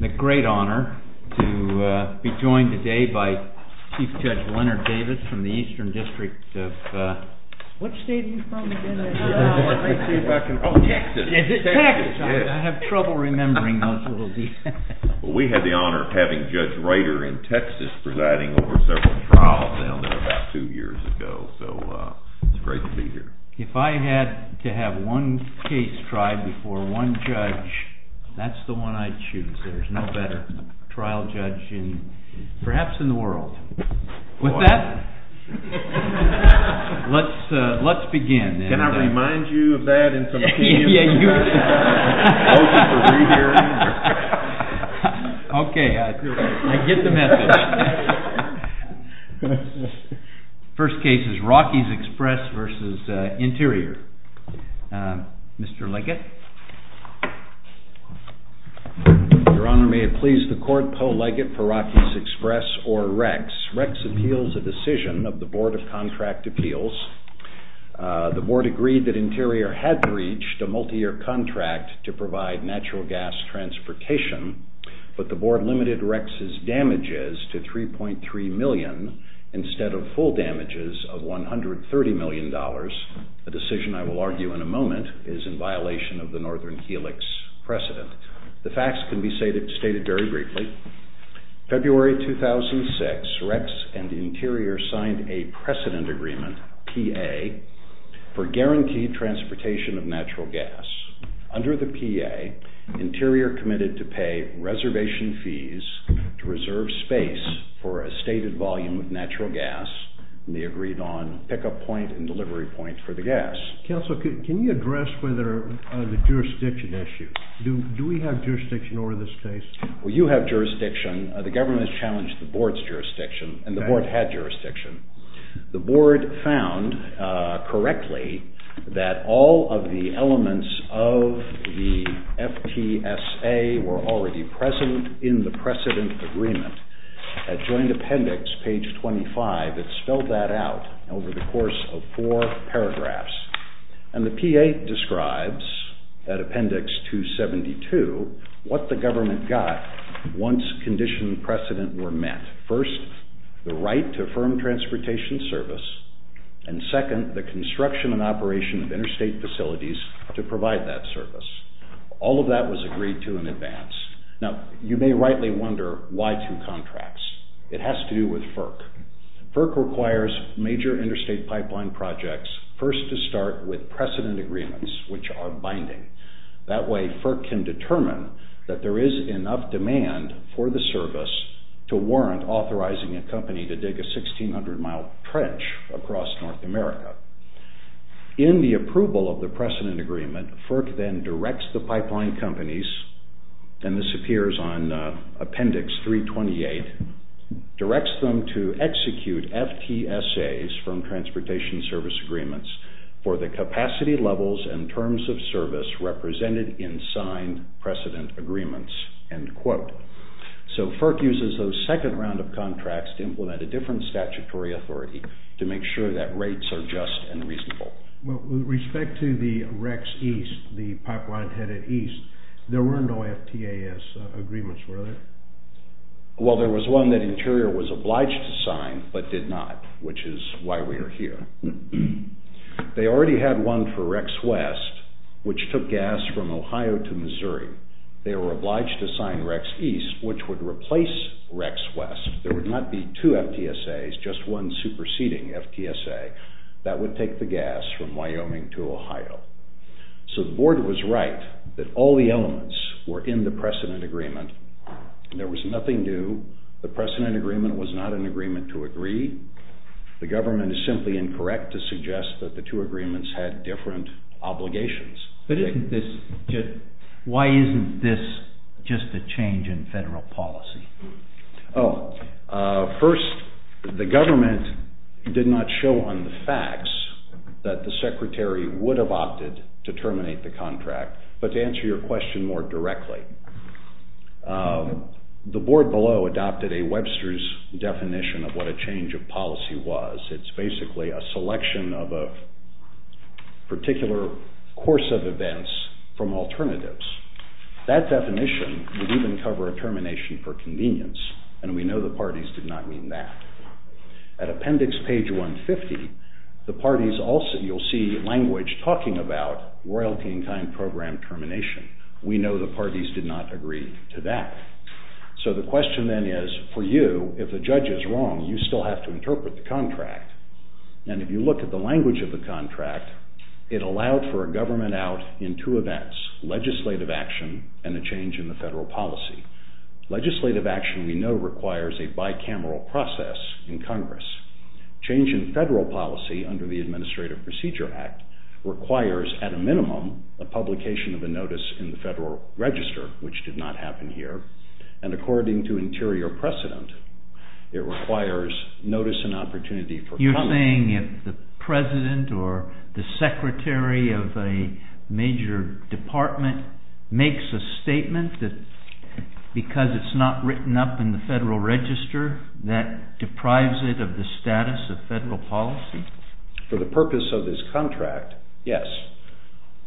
It's a great honor to be joined today by Chief Judge Leonard Davis from the Eastern District of Texas. We had the honor of having Judge Reiter in Texas presiding over several trials down there about two years ago, so it's great to be here. If I had to have one case tried before one judge, that's the one I'd choose. There's no better trial judge, perhaps in the world. With that, let's begin. Can I remind you of that in some key instance? Okay, I get the message. First case is ROCKIES EXPRESS v. INTERIOR. Mr. Leggett. Your Honor, may it please the Court, Poe Leggett for ROCKIES EXPRESS or REX. REX appeals a decision of the Board of Contract Appeals. The Board agreed that INTERIOR had breached a multi-year contract to provide natural gas transportation, but the Board limited REX's damages to $3.3 million instead of full damages of $130 million. The decision, I will argue in a moment, is in violation of the Northern Helix precedent. The facts can be stated very briefly. February 2006, REX and INTERIOR signed a precedent agreement, P.A., for guaranteed transportation of natural gas. Under the P.A., INTERIOR committed to pay reservation fees to reserve space for a stated volume of natural gas, and they agreed on pickup point and delivery point for the gas. Counsel, can you address the jurisdiction issue? Do we have jurisdiction over this case? Well, you have jurisdiction. The government has challenged the Board's jurisdiction, and the Board had jurisdiction. The Board found correctly that all of the elements of the FTSA were already present in the precedent agreement. At Joint Appendix, page 25, it spelled that out over the course of four paragraphs. And the P.A. describes, at Appendix 272, what the government got once condition and precedent were met. First, the right to firm transportation service. And second, the construction and operation of interstate facilities to provide that service. All of that was agreed to in advance. Now, you may rightly wonder, why two contracts? It has to do with FERC. FERC requires major interstate pipeline projects first to start with precedent agreements, which are binding. That way, FERC can determine that there is enough demand for the service to warrant authorizing a company to dig a 1,600-mile trench across North America. In the approval of the precedent agreement, FERC then directs the pipeline companies, and this appears on Appendix 328, directs them to execute FTSAs from transportation service agreements for the capacity levels and terms of service represented in signed precedent agreements, end quote. So, FERC uses those second round of contracts to implement a different statutory authority to make sure that rates are just and reasonable. With respect to the Rex East, the pipeline headed east, there were no FTAS agreements, were there? Well, there was one that Interior was obliged to sign, but did not, which is why we are here. They already had one for Rex West, which took gas from Ohio to Missouri. They were obliged to sign Rex East, which would replace Rex West. There would not be two FTSAs, just one superseding FTSA. That would take the gas from Wyoming to Ohio. So the Board was right that all the elements were in the precedent agreement. There was nothing new. The precedent agreement was not an agreement to agree. The government is simply incorrect to suggest that the two agreements had different obligations. Why isn't this just a change in federal policy? First, the government did not show on the facts that the Secretary would have opted to terminate the contract, The Board below adopted a Webster's definition of what a change of policy was. It's basically a selection of a particular course of events from alternatives. That definition would even cover a termination for convenience, and we know the parties did not mean that. At appendix page 150, you'll see language talking about royalty-in-kind program termination. We know the parties did not agree to that. So the question then is, for you, if the judge is wrong, you still have to interpret the contract. And if you look at the language of the contract, it allowed for a government out in two events, legislative action and a change in the federal policy. Legislative action, we know, requires a bicameral process in Congress. Change in federal policy under the Administrative Procedure Act requires, at a minimum, a publication of a notice in the Federal Register, which did not happen here. And according to interior precedent, it requires notice and opportunity for comment. You're saying if the President or the Secretary of a major department makes a statement that because it's not written up in the Federal Register, that deprives it of the status of federal policy? For the purpose of this contract, yes.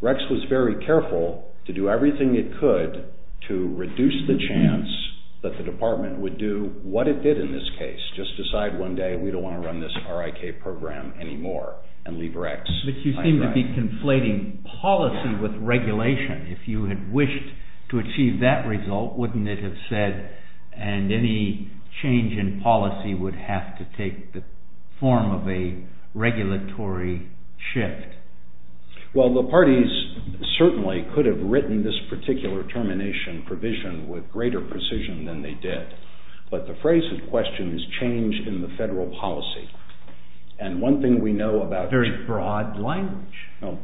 RECS was very careful to do everything it could to reduce the chance that the department would do what it did in this case, just decide one day we don't want to run this RIK program anymore and leave RECS. But you seem to be conflating policy with regulation. If you had wished to achieve that result, wouldn't it have said, and any change in policy would have to take the form of a regulatory shift? Well, the parties certainly could have written this particular termination provision with greater precision than they did. But the phrase in question is change in the federal policy. And one thing we know about... Very broad language.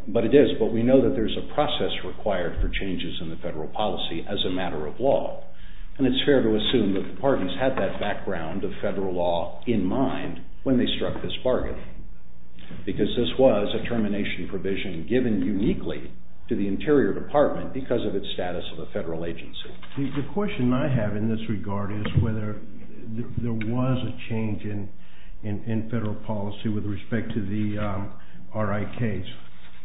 But it is. But we know that there's a process required for changes in the federal policy as a matter of law. And it's fair to assume that the parties had that background of federal law in mind when they struck this bargain. Because this was a termination provision given uniquely to the Interior Department because of its status of a federal agency. The question I have in this regard is whether there was a change in federal policy with respect to the RIKs.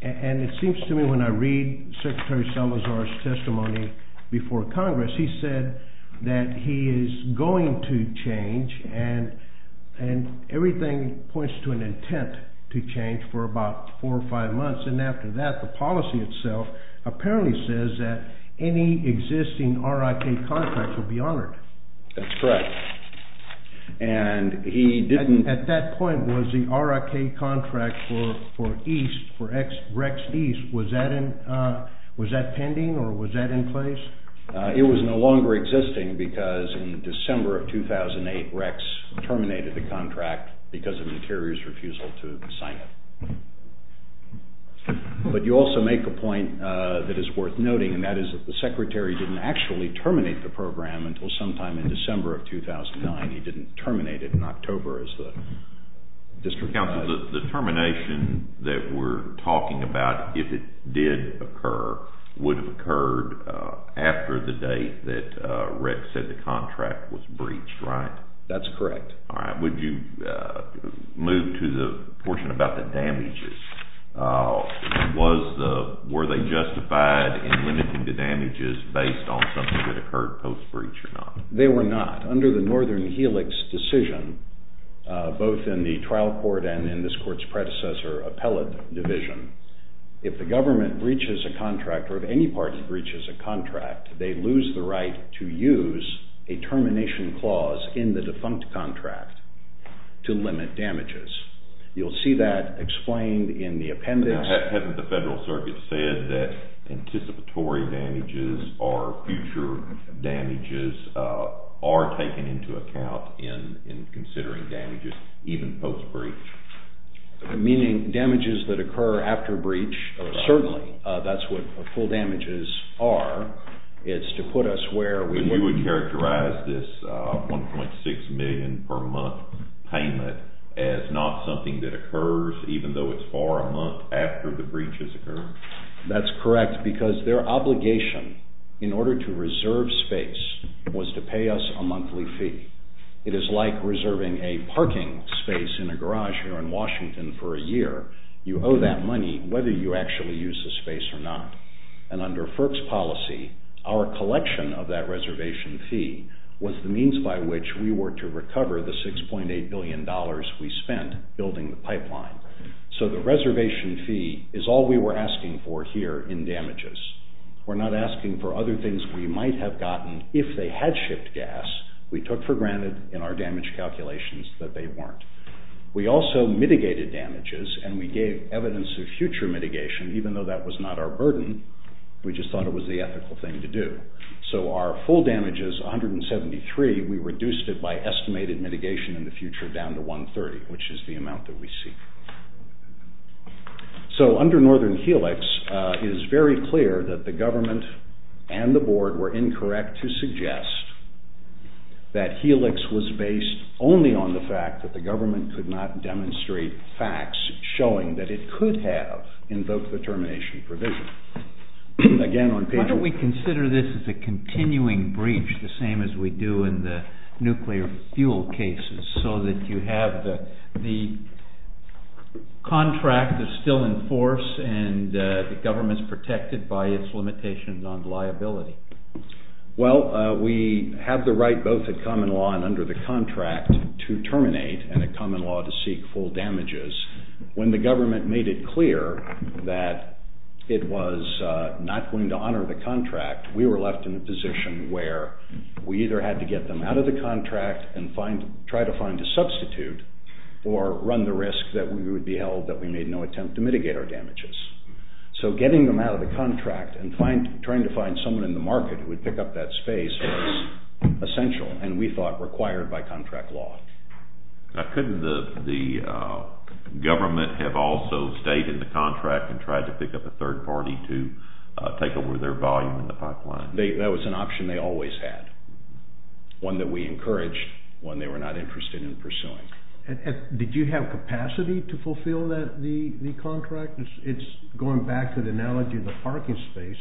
And it seems to me when I read Secretary Salazar's testimony before Congress, he said that he is going to change, and everything points to an intent to change for about four or five months. And after that, the policy itself apparently says that any existing RIK contract will be honored. That's correct. At that point, was the RIK contract for Rex East, was that pending or was that in place? It was no longer existing because in December of 2008, Rex terminated the contract because of Interior's refusal to sign it. But you also make a point that is worth noting, and that is that the Secretary didn't actually terminate the program until sometime in December of 2009. He didn't terminate it in October as the district counsel said. The termination that we're talking about, if it did occur, would have occurred after the date that Rex said the contract was breached, right? That's correct. Would you move to the portion about the damages? Were they justified in limiting the damages based on something that occurred post-breach or not? They were not. Under the Northern Helix decision, both in the trial court and in this court's predecessor appellate division, if the government breaches a contract or if any party breaches a contract, they lose the right to use a termination clause in the defunct contract to limit damages. You'll see that explained in the appendix. Hadn't the Federal Circuit said that anticipatory damages or future damages are taken into account in considering damages even post-breach? Meaning damages that occur after breach. Certainly, that's what full damages are. It's to put us where we would characterize this $1.6 million per month payment as not something that occurs even though it's far a month after the breaches occur. That's correct because their obligation in order to reserve space was to pay us a monthly fee. It is like reserving a parking space in a garage here in Washington for a year. You owe that money whether you actually use the space or not. Under FERC's policy, our collection of that reservation fee was the means by which we were to recover the $6.8 billion we spent building the pipeline. The reservation fee is all we were asking for here in damages. We're not asking for other things we might have gotten if they had shipped gas. We took for granted in our damage calculations that they weren't. We also mitigated damages and we gave evidence of future mitigation even though that was not our burden. We just thought it was the ethical thing to do. Our full damage is $173. We reduced it by estimated mitigation in the future down to $130, which is the amount that we see. Under Northern Helix, it is very clear that the government and the board were incorrect to suggest that Helix was based only on the fact that the government could not demonstrate facts showing that it could have invoked the termination provision. Why don't we consider this as a continuing breach the same as we do in the nuclear fuel cases so that you have the contract that's still in force and the government's protected by its limitations on liability? Well, we have the right both at common law and under the contract to terminate and at common law to seek full damages. When the government made it clear that it was not going to honor the contract, we were left in a position where we either had to get them out of the contract and try to find a substitute or run the risk that we would be held that we made no attempt to mitigate our damages. So getting them out of the contract and trying to find someone in the market who would pick up that space was essential and we thought required by contract law. Couldn't the government have also stayed in the contract and tried to pick up a third party to take over their volume in the pipeline? That was an option they always had, one that we encouraged when they were not interested in pursuing. Did you have capacity to fulfill the contract? It's going back to the analogy of the parking space.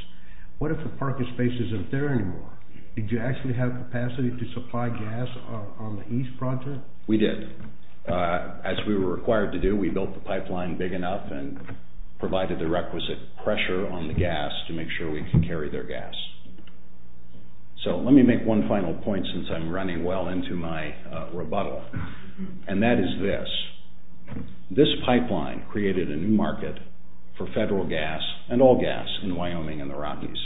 What if the parking space isn't there anymore? Did you actually have capacity to supply gas on the east project? We did. As we were required to do, we built the pipeline big enough and provided the requisite pressure on the gas to make sure we could carry their gas. So let me make one final point since I'm running well into my rebuttal and that is this. This pipeline created a new market for federal gas and all gas in Wyoming and the Rockies.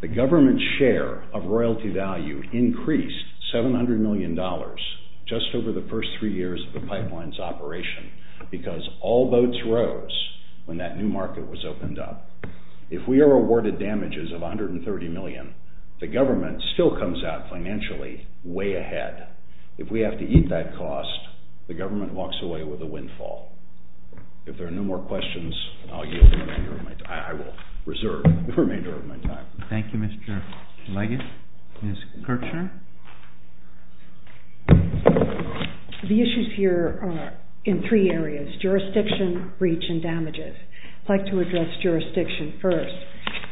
The government's share of royalty value increased $700 million just over the first three years of the pipeline's operation because all boats rose when that new market was opened up. If we are awarded damages of $130 million, the government still comes out financially way ahead. If we have to eat that cost, the government walks away with a windfall. If there are no more questions, I will reserve the remainder of my time. Thank you, Mr. Leggett. Ms. Kirchherr? The issues here are in three areas, jurisdiction, breach, and damages. I'd like to address jurisdiction first.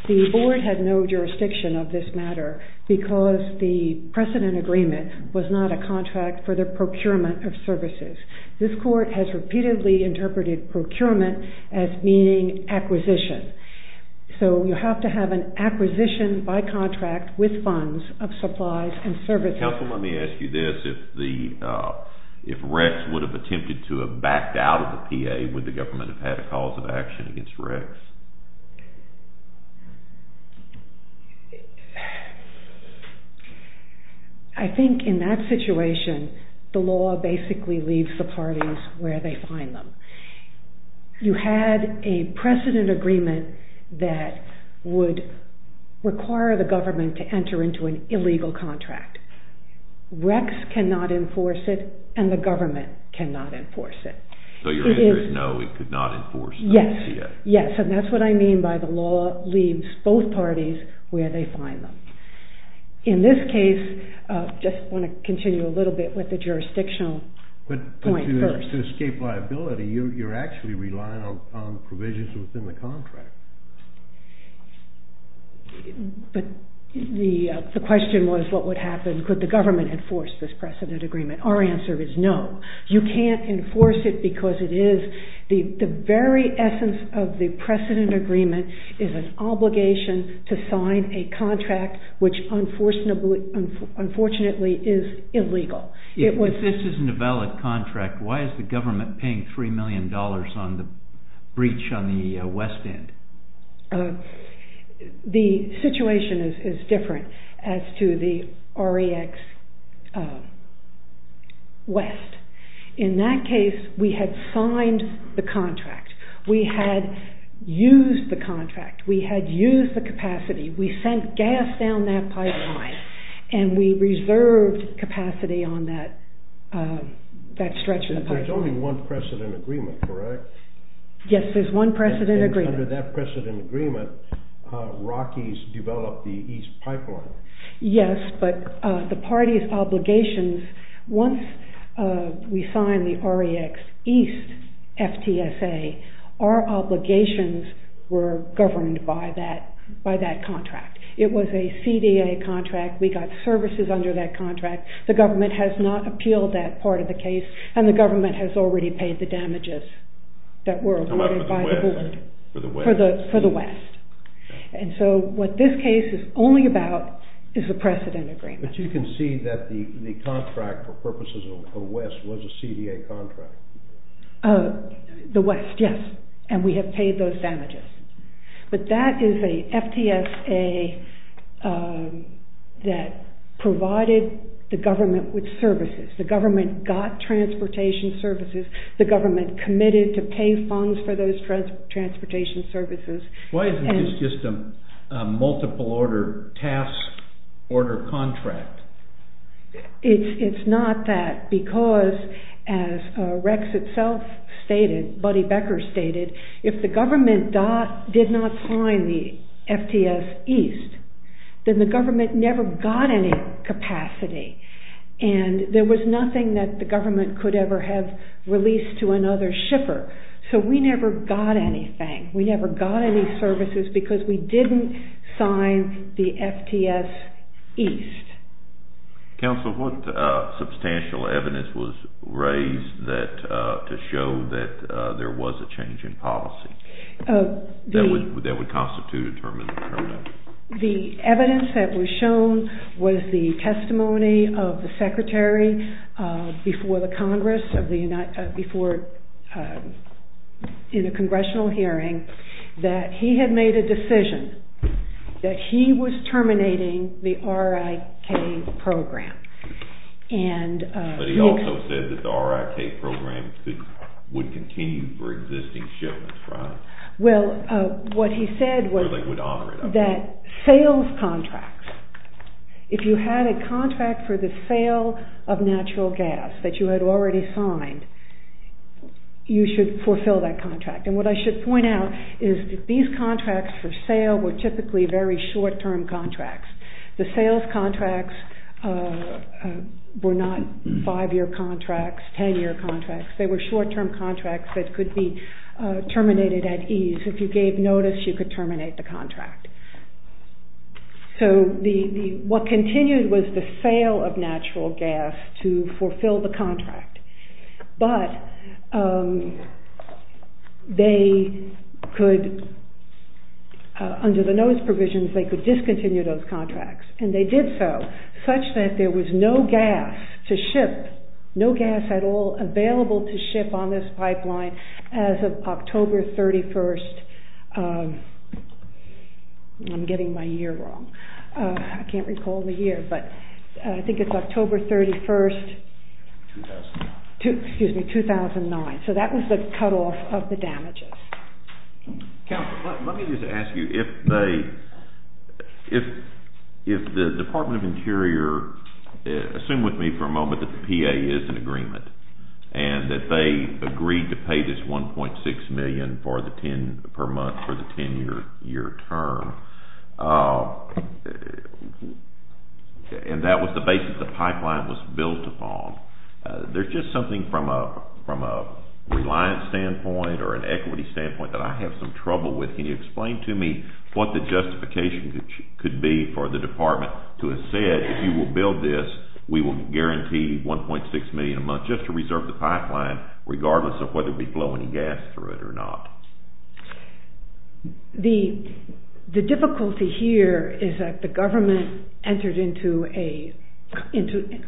The board had no jurisdiction of this matter because the precedent agreement was not a contract for the procurement of services. This court has repeatedly interpreted procurement as meaning acquisition. So you have to have an acquisition by contract with funds of supplies and services. Counsel, let me ask you this. If Rex would have attempted to have backed out of the PA, would the government have had a cause of action against Rex? I think in that situation, the law basically leaves the parties where they find them. You had a precedent agreement that would require the government to enter into an illegal contract. Rex cannot enforce it, and the government cannot enforce it. So your answer is no, it could not enforce it? Yes, and that's what I mean by the law leaves both parties where they find them. In this case, I just want to continue a little bit with the jurisdictional point first. But to escape liability, you're actually relying on provisions within the contract. But the question was what would happen, could the government enforce this precedent agreement? Our answer is no. You can't enforce it because the very essence of the precedent agreement is an obligation to sign a contract which unfortunately is illegal. If this isn't a valid contract, why is the government paying $3 million on the breach on the West End? The situation is different as to the REX West. In that case, we had signed the contract. We had used the contract. We had used the capacity. We sent gas down that pipeline, and we reserved capacity on that stretch of the pipeline. There's only one precedent agreement, correct? Yes, there's one precedent agreement. And under that precedent agreement, Rockies developed the East Pipeline. Yes, but the party's obligations, once we signed the REX East FTSA, our obligations were governed by that contract. It was a CDA contract. We got services under that contract. The government has not appealed that part of the case, and the government has already paid the damages that were allotted by the board. For the West. For the West. And so what this case is only about is the precedent agreement. But you can see that the contract for purposes of the West was a CDA contract. The West, yes, and we have paid those damages. But that is a FTSA that provided the government with services. The government got transportation services. The government committed to pay funds for those transportation services. Why isn't this just a multiple order task order contract? It's not that, because as REX itself stated, Buddy Becker stated, if the government did not sign the FTS East, then the government never got any capacity. And there was nothing that the government could ever have released to another shipper. So we never got anything. We never got any services because we didn't sign the FTS East. Counsel, what substantial evidence was raised to show that there was a change in policy that would constitute a term in the term document? The evidence that was shown was the testimony of the secretary before the Congress, in a congressional hearing, that he had made a decision that he was terminating the RIK program. But he also said that the RIK program would continue for existing shipments, right? Well, what he said was that sales contracts, if you had a contract for the sale of natural gas that you had already signed, you should fulfill that contract. And what I should point out is that these contracts for sale were typically very short-term contracts. The sales contracts were not five-year contracts, ten-year contracts. They were short-term contracts that could be terminated at ease. If you gave notice, you could terminate the contract. So what continued was the sale of natural gas to fulfill the contract. But they could, under the notice provisions, they could discontinue those contracts. And they did so such that there was no gas to ship, no gas at all available to ship on this pipeline as of October 31st. I'm getting my year wrong. I can't recall the year. But I think it's October 31st, 2009. So that was the cutoff of the damages. Counselor, let me just ask you, if the Department of Interior, assume with me for a moment that the PA is in agreement and that they agreed to pay this $1.6 million per month for the ten-year term, and that was the basis the pipeline was built upon, there's just something from a reliance standpoint or an equity standpoint that I have some trouble with. Can you explain to me what the justification could be for the Department to have said, if you will build this, we will guarantee $1.6 million a month just to reserve the pipeline, regardless of whether we flow any gas through it or not? The difficulty here is that the government entered into a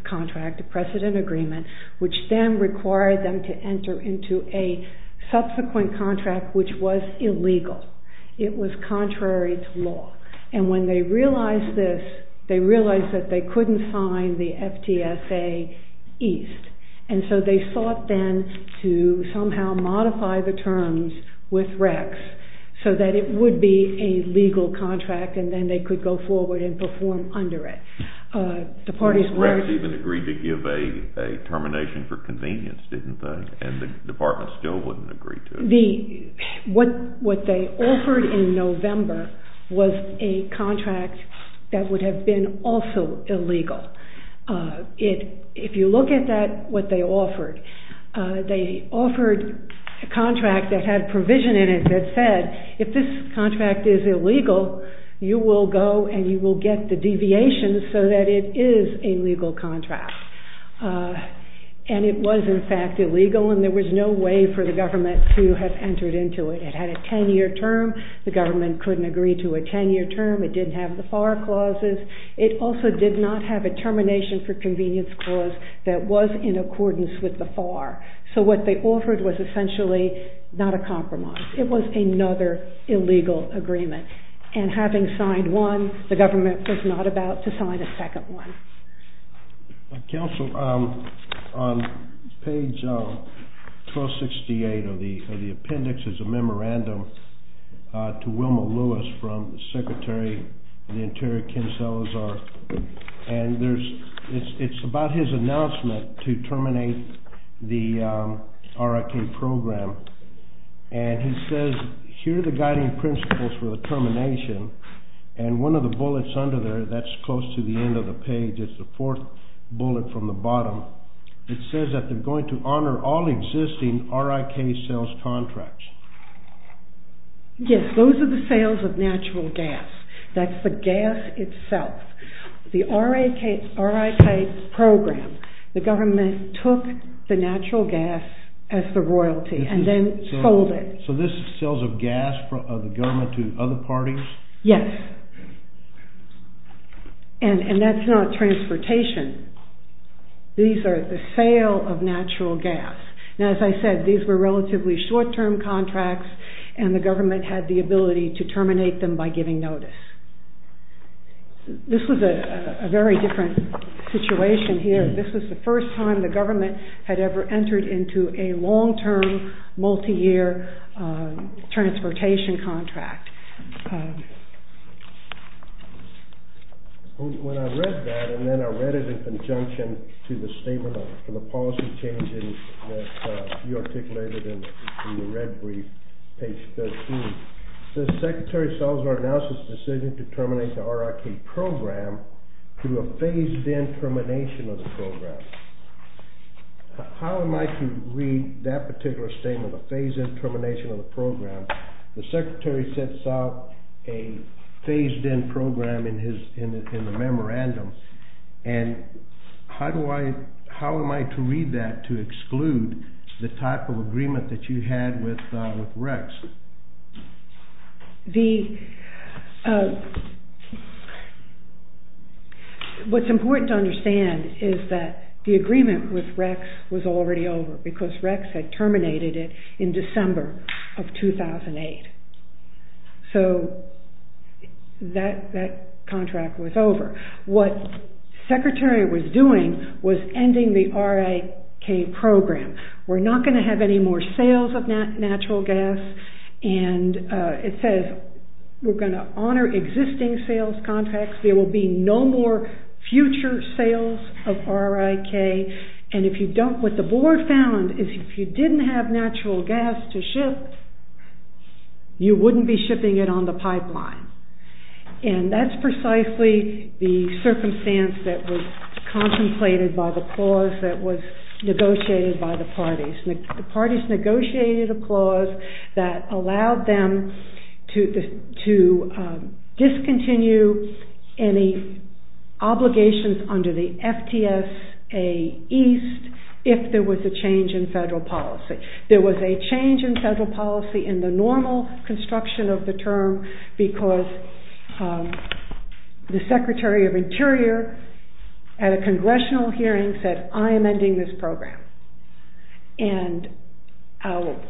contract, a precedent agreement, which then required them to enter into a subsequent contract which was illegal. It was contrary to law. And when they realized this, they realized that they couldn't sign the FTSA East. And so they sought then to somehow modify the terms with Rex so that it would be a legal contract and then they could go forward and perform under it. Rex even agreed to give a termination for convenience, didn't they? And the Department still wouldn't agree to it. What they offered in November was a contract that would have been also illegal. If you look at what they offered, they offered a contract that had provision in it that said, if this contract is illegal, you will go and you will get the deviations so that it is a legal contract. And it was in fact illegal and there was no way for the government to have entered into it. It had a 10-year term. The government couldn't agree to a 10-year term. It didn't have the FAR clauses. It also did not have a termination for convenience clause that was in accordance with the FAR. So what they offered was essentially not a compromise. It was another illegal agreement. And having signed one, the government was not about to sign a second one. Counsel, on page 1268 of the appendix is a memorandum to Wilma Lewis from the Secretary of the Interior, Ken Salazar. And it's about his announcement to terminate the RIT program. And he says, here are the guiding principles for the termination. And one of the bullets under there, that's close to the end of the page. It's the fourth bullet from the bottom. It says that they're going to honor all existing RIT sales contracts. Yes, those are the sales of natural gas. That's the gas itself. The RIT program, the government took the natural gas as the royalty and then sold it. So this is sales of gas from the government to other parties? Yes. And that's not transportation. These are the sale of natural gas. Now, as I said, these were relatively short-term contracts. And the government had the ability to terminate them by giving notice. This was a very different situation here. This was the first time the government had ever entered into a long-term, multi-year transportation contract. When I read that, and then I read it in conjunction to the statement of the policy changes that you articulated in the red brief, page 13, it says the secretary solves our analysis decision to terminate the RIT program through a phased-in termination of the program. How am I to read that particular statement, a phased-in termination of the program? The secretary sets out a phased-in program in the memorandum. And how am I to read that to exclude the type of agreement that you had with Rex? What's important to understand is that the agreement with Rex was already over, because Rex had terminated it in December of 2008. So that contract was over. What the secretary was doing was ending the RIT program. We're not going to have any more sales of natural gas, and it says we're going to honor existing sales contracts. There will be no more future sales of RIT. And what the board found is if you didn't have natural gas to ship, you wouldn't be shipping it on the pipeline. And that's precisely the circumstance that was contemplated by the clause that was negotiated by the parties. The parties negotiated a clause that allowed them to discontinue any obligations under the FTSA East if there was a change in federal policy. There was a change in federal policy in the normal construction of the term because the secretary of interior at a congressional hearing said, I am ending this program. And I'll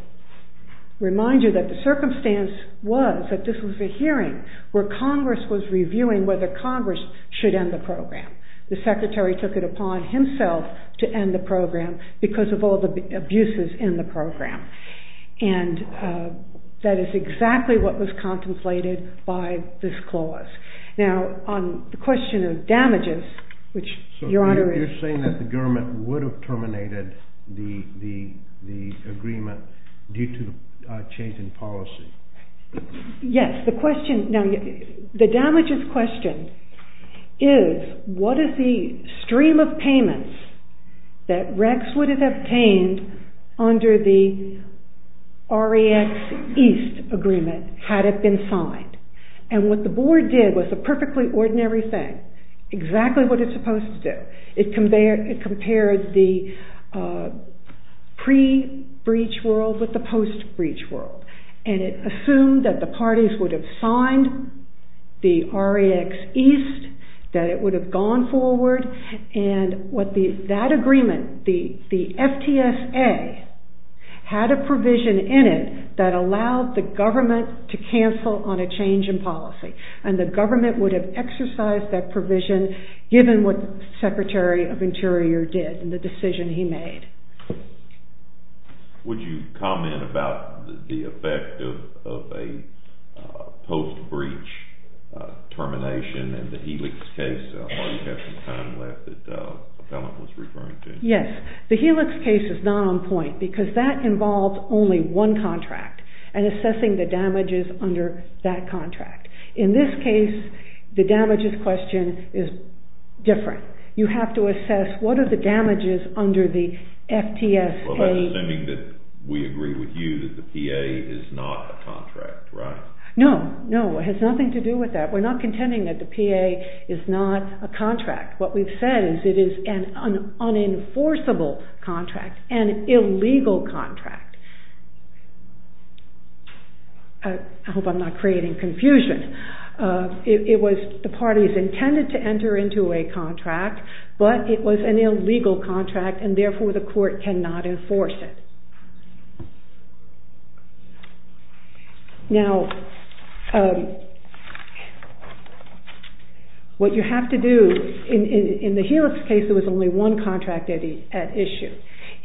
remind you that the circumstance was that this was a hearing where Congress was reviewing whether Congress should end the program. The secretary took it upon himself to end the program because of all the abuses in the program. And that is exactly what was contemplated by this clause. Now, on the question of damages, which Your Honor is... So you're saying that the government would have terminated the agreement due to a change in policy? Yes, the question... Now, the damages question is what is the stream of payments that Rex would have obtained under the REX East agreement had it been signed? And what the board did was a perfectly ordinary thing, exactly what it's supposed to do. It compared the pre-breach world with the post-breach world. And it assumed that the parties would have signed the REX East, that it would have gone forward. And that agreement, the FTSA, had a provision in it that allowed the government to cancel on a change in policy. And the government would have exercised that provision given what the secretary of interior did and the decision he made. Would you comment about the effect of a post-breach termination in the Helix case? I know you have some time left, but that was referring to... Yes, the Helix case is not on point because that involves only one contract and assessing the damages under that contract. In this case, the damages question is different. You have to assess what are the damages under the FTSA... Well, that's assuming that we agree with you that the PA is not a contract, right? No, no, it has nothing to do with that. We're not contending that the PA is not a contract. What we've said is it is an unenforceable contract, an illegal contract. I hope I'm not creating confusion. It was the parties intended to enter into a contract, but it was an illegal contract and therefore the court cannot enforce it. Now, what you have to do, in the Helix case, there was only one contract at issue.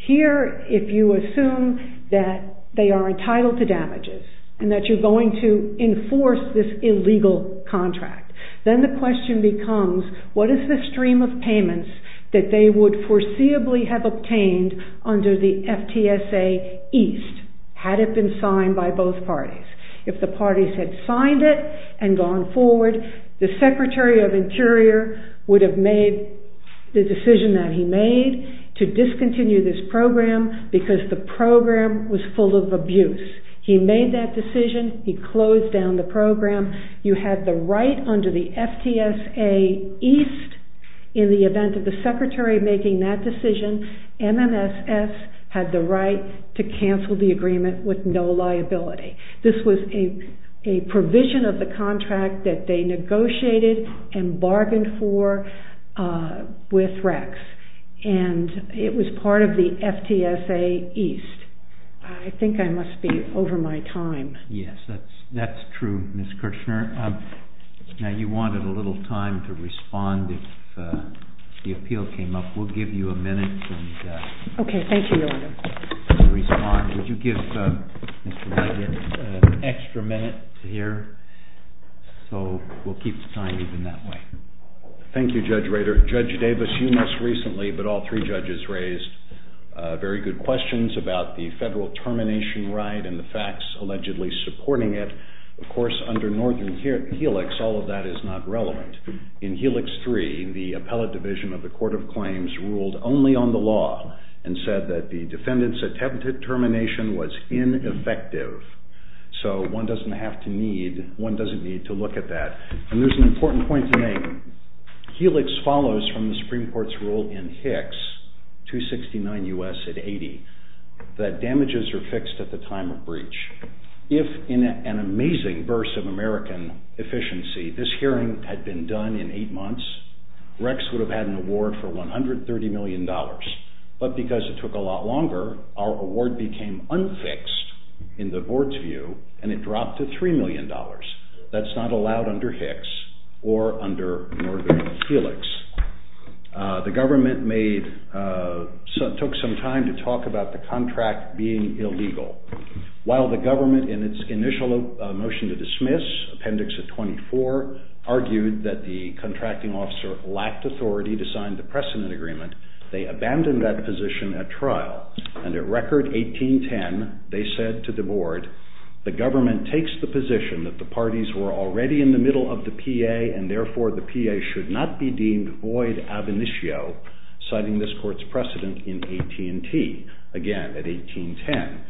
Here, if you assume that they are entitled to damages and that you're going to enforce this illegal contract, then the question becomes what is the stream of payments that they would foreseeably have obtained under the FTSA East, had it been signed by both parties. If the parties had signed it and gone forward, the Secretary of Interior would have made the decision that he made to discontinue this program because the program was full of abuse. He made that decision. He closed down the program. You had the right under the FTSA East, in the event of the Secretary making that decision, MMSS had the right to cancel the agreement with no liability. This was a provision of the contract that they negotiated and bargained for with Rex, and it was part of the FTSA East. I think I must be over my time. Yes, that's true, Ms. Kirchner. Now, you wanted a little time to respond if the appeal came up. We'll give you a minute. Okay, thank you, Your Honor. Would you give Mr. Rader an extra minute to hear? So we'll keep the time even that way. Thank you, Judge Rader. Judge Davis, you most recently, but all three judges, raised very good questions about the federal termination right and the facts allegedly supporting it. Of course, under Northern Helix, all of that is not relevant. In Helix 3, the appellate division of the Court of Claims ruled only on the law and said that the defendant's attempted termination was ineffective. So one doesn't need to look at that. And there's an important point to make. Helix follows from the Supreme Court's rule in Hicks, 269 U.S. at 80, that damages are fixed at the time of breach. If, in an amazing burst of American efficiency, this hearing had been done in eight months, Rex would have had an award for $130 million. But because it took a lot longer, our award became unfixed in the board's view, and it dropped to $3 million. That's not allowed under Hicks or under Northern Helix. The government took some time to talk about the contract being illegal. While the government, in its initial motion to dismiss, Appendix 24, argued that the contracting officer lacked authority to sign the precedent agreement, they abandoned that position at trial. And at Record 1810, they said to the board, the government takes the position that the parties were already in the middle of the PA, and therefore the PA should not be deemed void ab initio, citing this court's precedent in AT&T, again at 1810.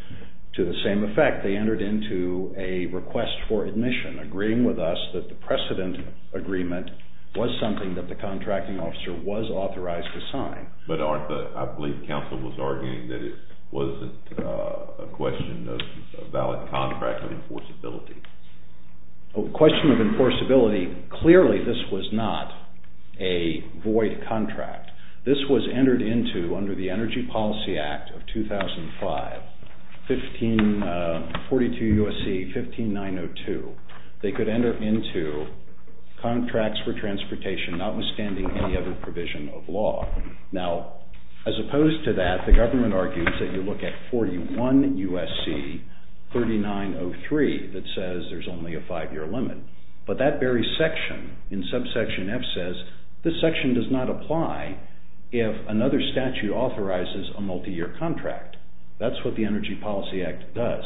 To the same effect, they entered into a request for admission, agreeing with us that the precedent agreement was something that the contracting officer was authorized to sign. But Arthur, I believe counsel was arguing that it wasn't a question of a valid contract of enforceability. A question of enforceability, clearly this was not a void contract. This was entered into under the Energy Policy Act of 2005, 42 U.S.C. 15902. They could enter into contracts for transportation notwithstanding any other provision of law. Now, as opposed to that, the government argues that you look at 41 U.S.C. 3903 that says there's only a five-year limit. But that very section in subsection F says, this section does not apply if another statute authorizes a multi-year contract. That's what the Energy Policy Act does.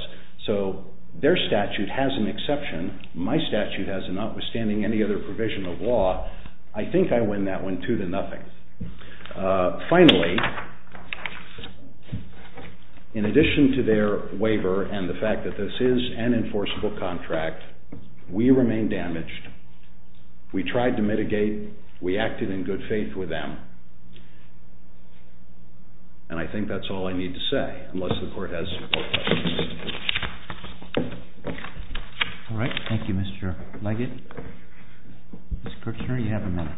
So their statute has an exception. My statute has a notwithstanding any other provision of law. I think I win that one two to nothing. Finally, in addition to their waiver and the fact that this is an enforceable contract, we remain damaged. We tried to mitigate. We acted in good faith with them. And I think that's all I need to say, unless the Court has support questions. All right. Thank you, Mr. Leggett. Ms. Kirchner, you have a minute.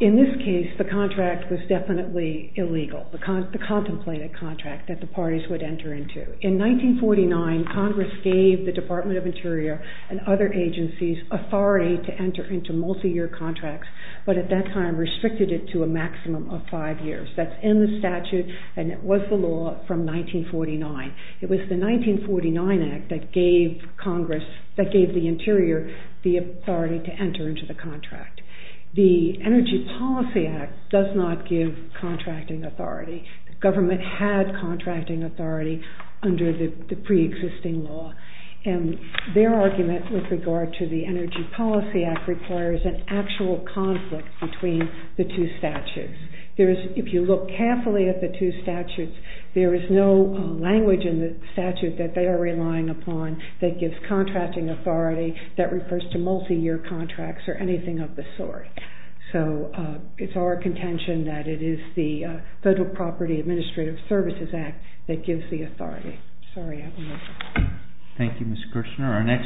In this case, the contract was definitely illegal, the contemplated contract that the parties would enter into. In 1949, Congress gave the Department of Interior and other agencies authority to enter into multi-year contracts, but at that time restricted it to a maximum of five years. That's in the statute, and it was the law from 1949. It was the 1949 Act that gave the Interior the authority to enter into the contract. The Energy Policy Act does not give contracting authority. The government had contracting authority under the preexisting law. And their argument with regard to the Energy Policy Act requires an actual conflict between the two statutes. If you look carefully at the two statutes, there is no language in the statute that they are relying upon that gives contracting authority that refers to multi-year contracts or anything of the sort. So it's our contention that it is the Federal Property Administrative Services Act that gives the authority. Thank you, Ms. Kirshner.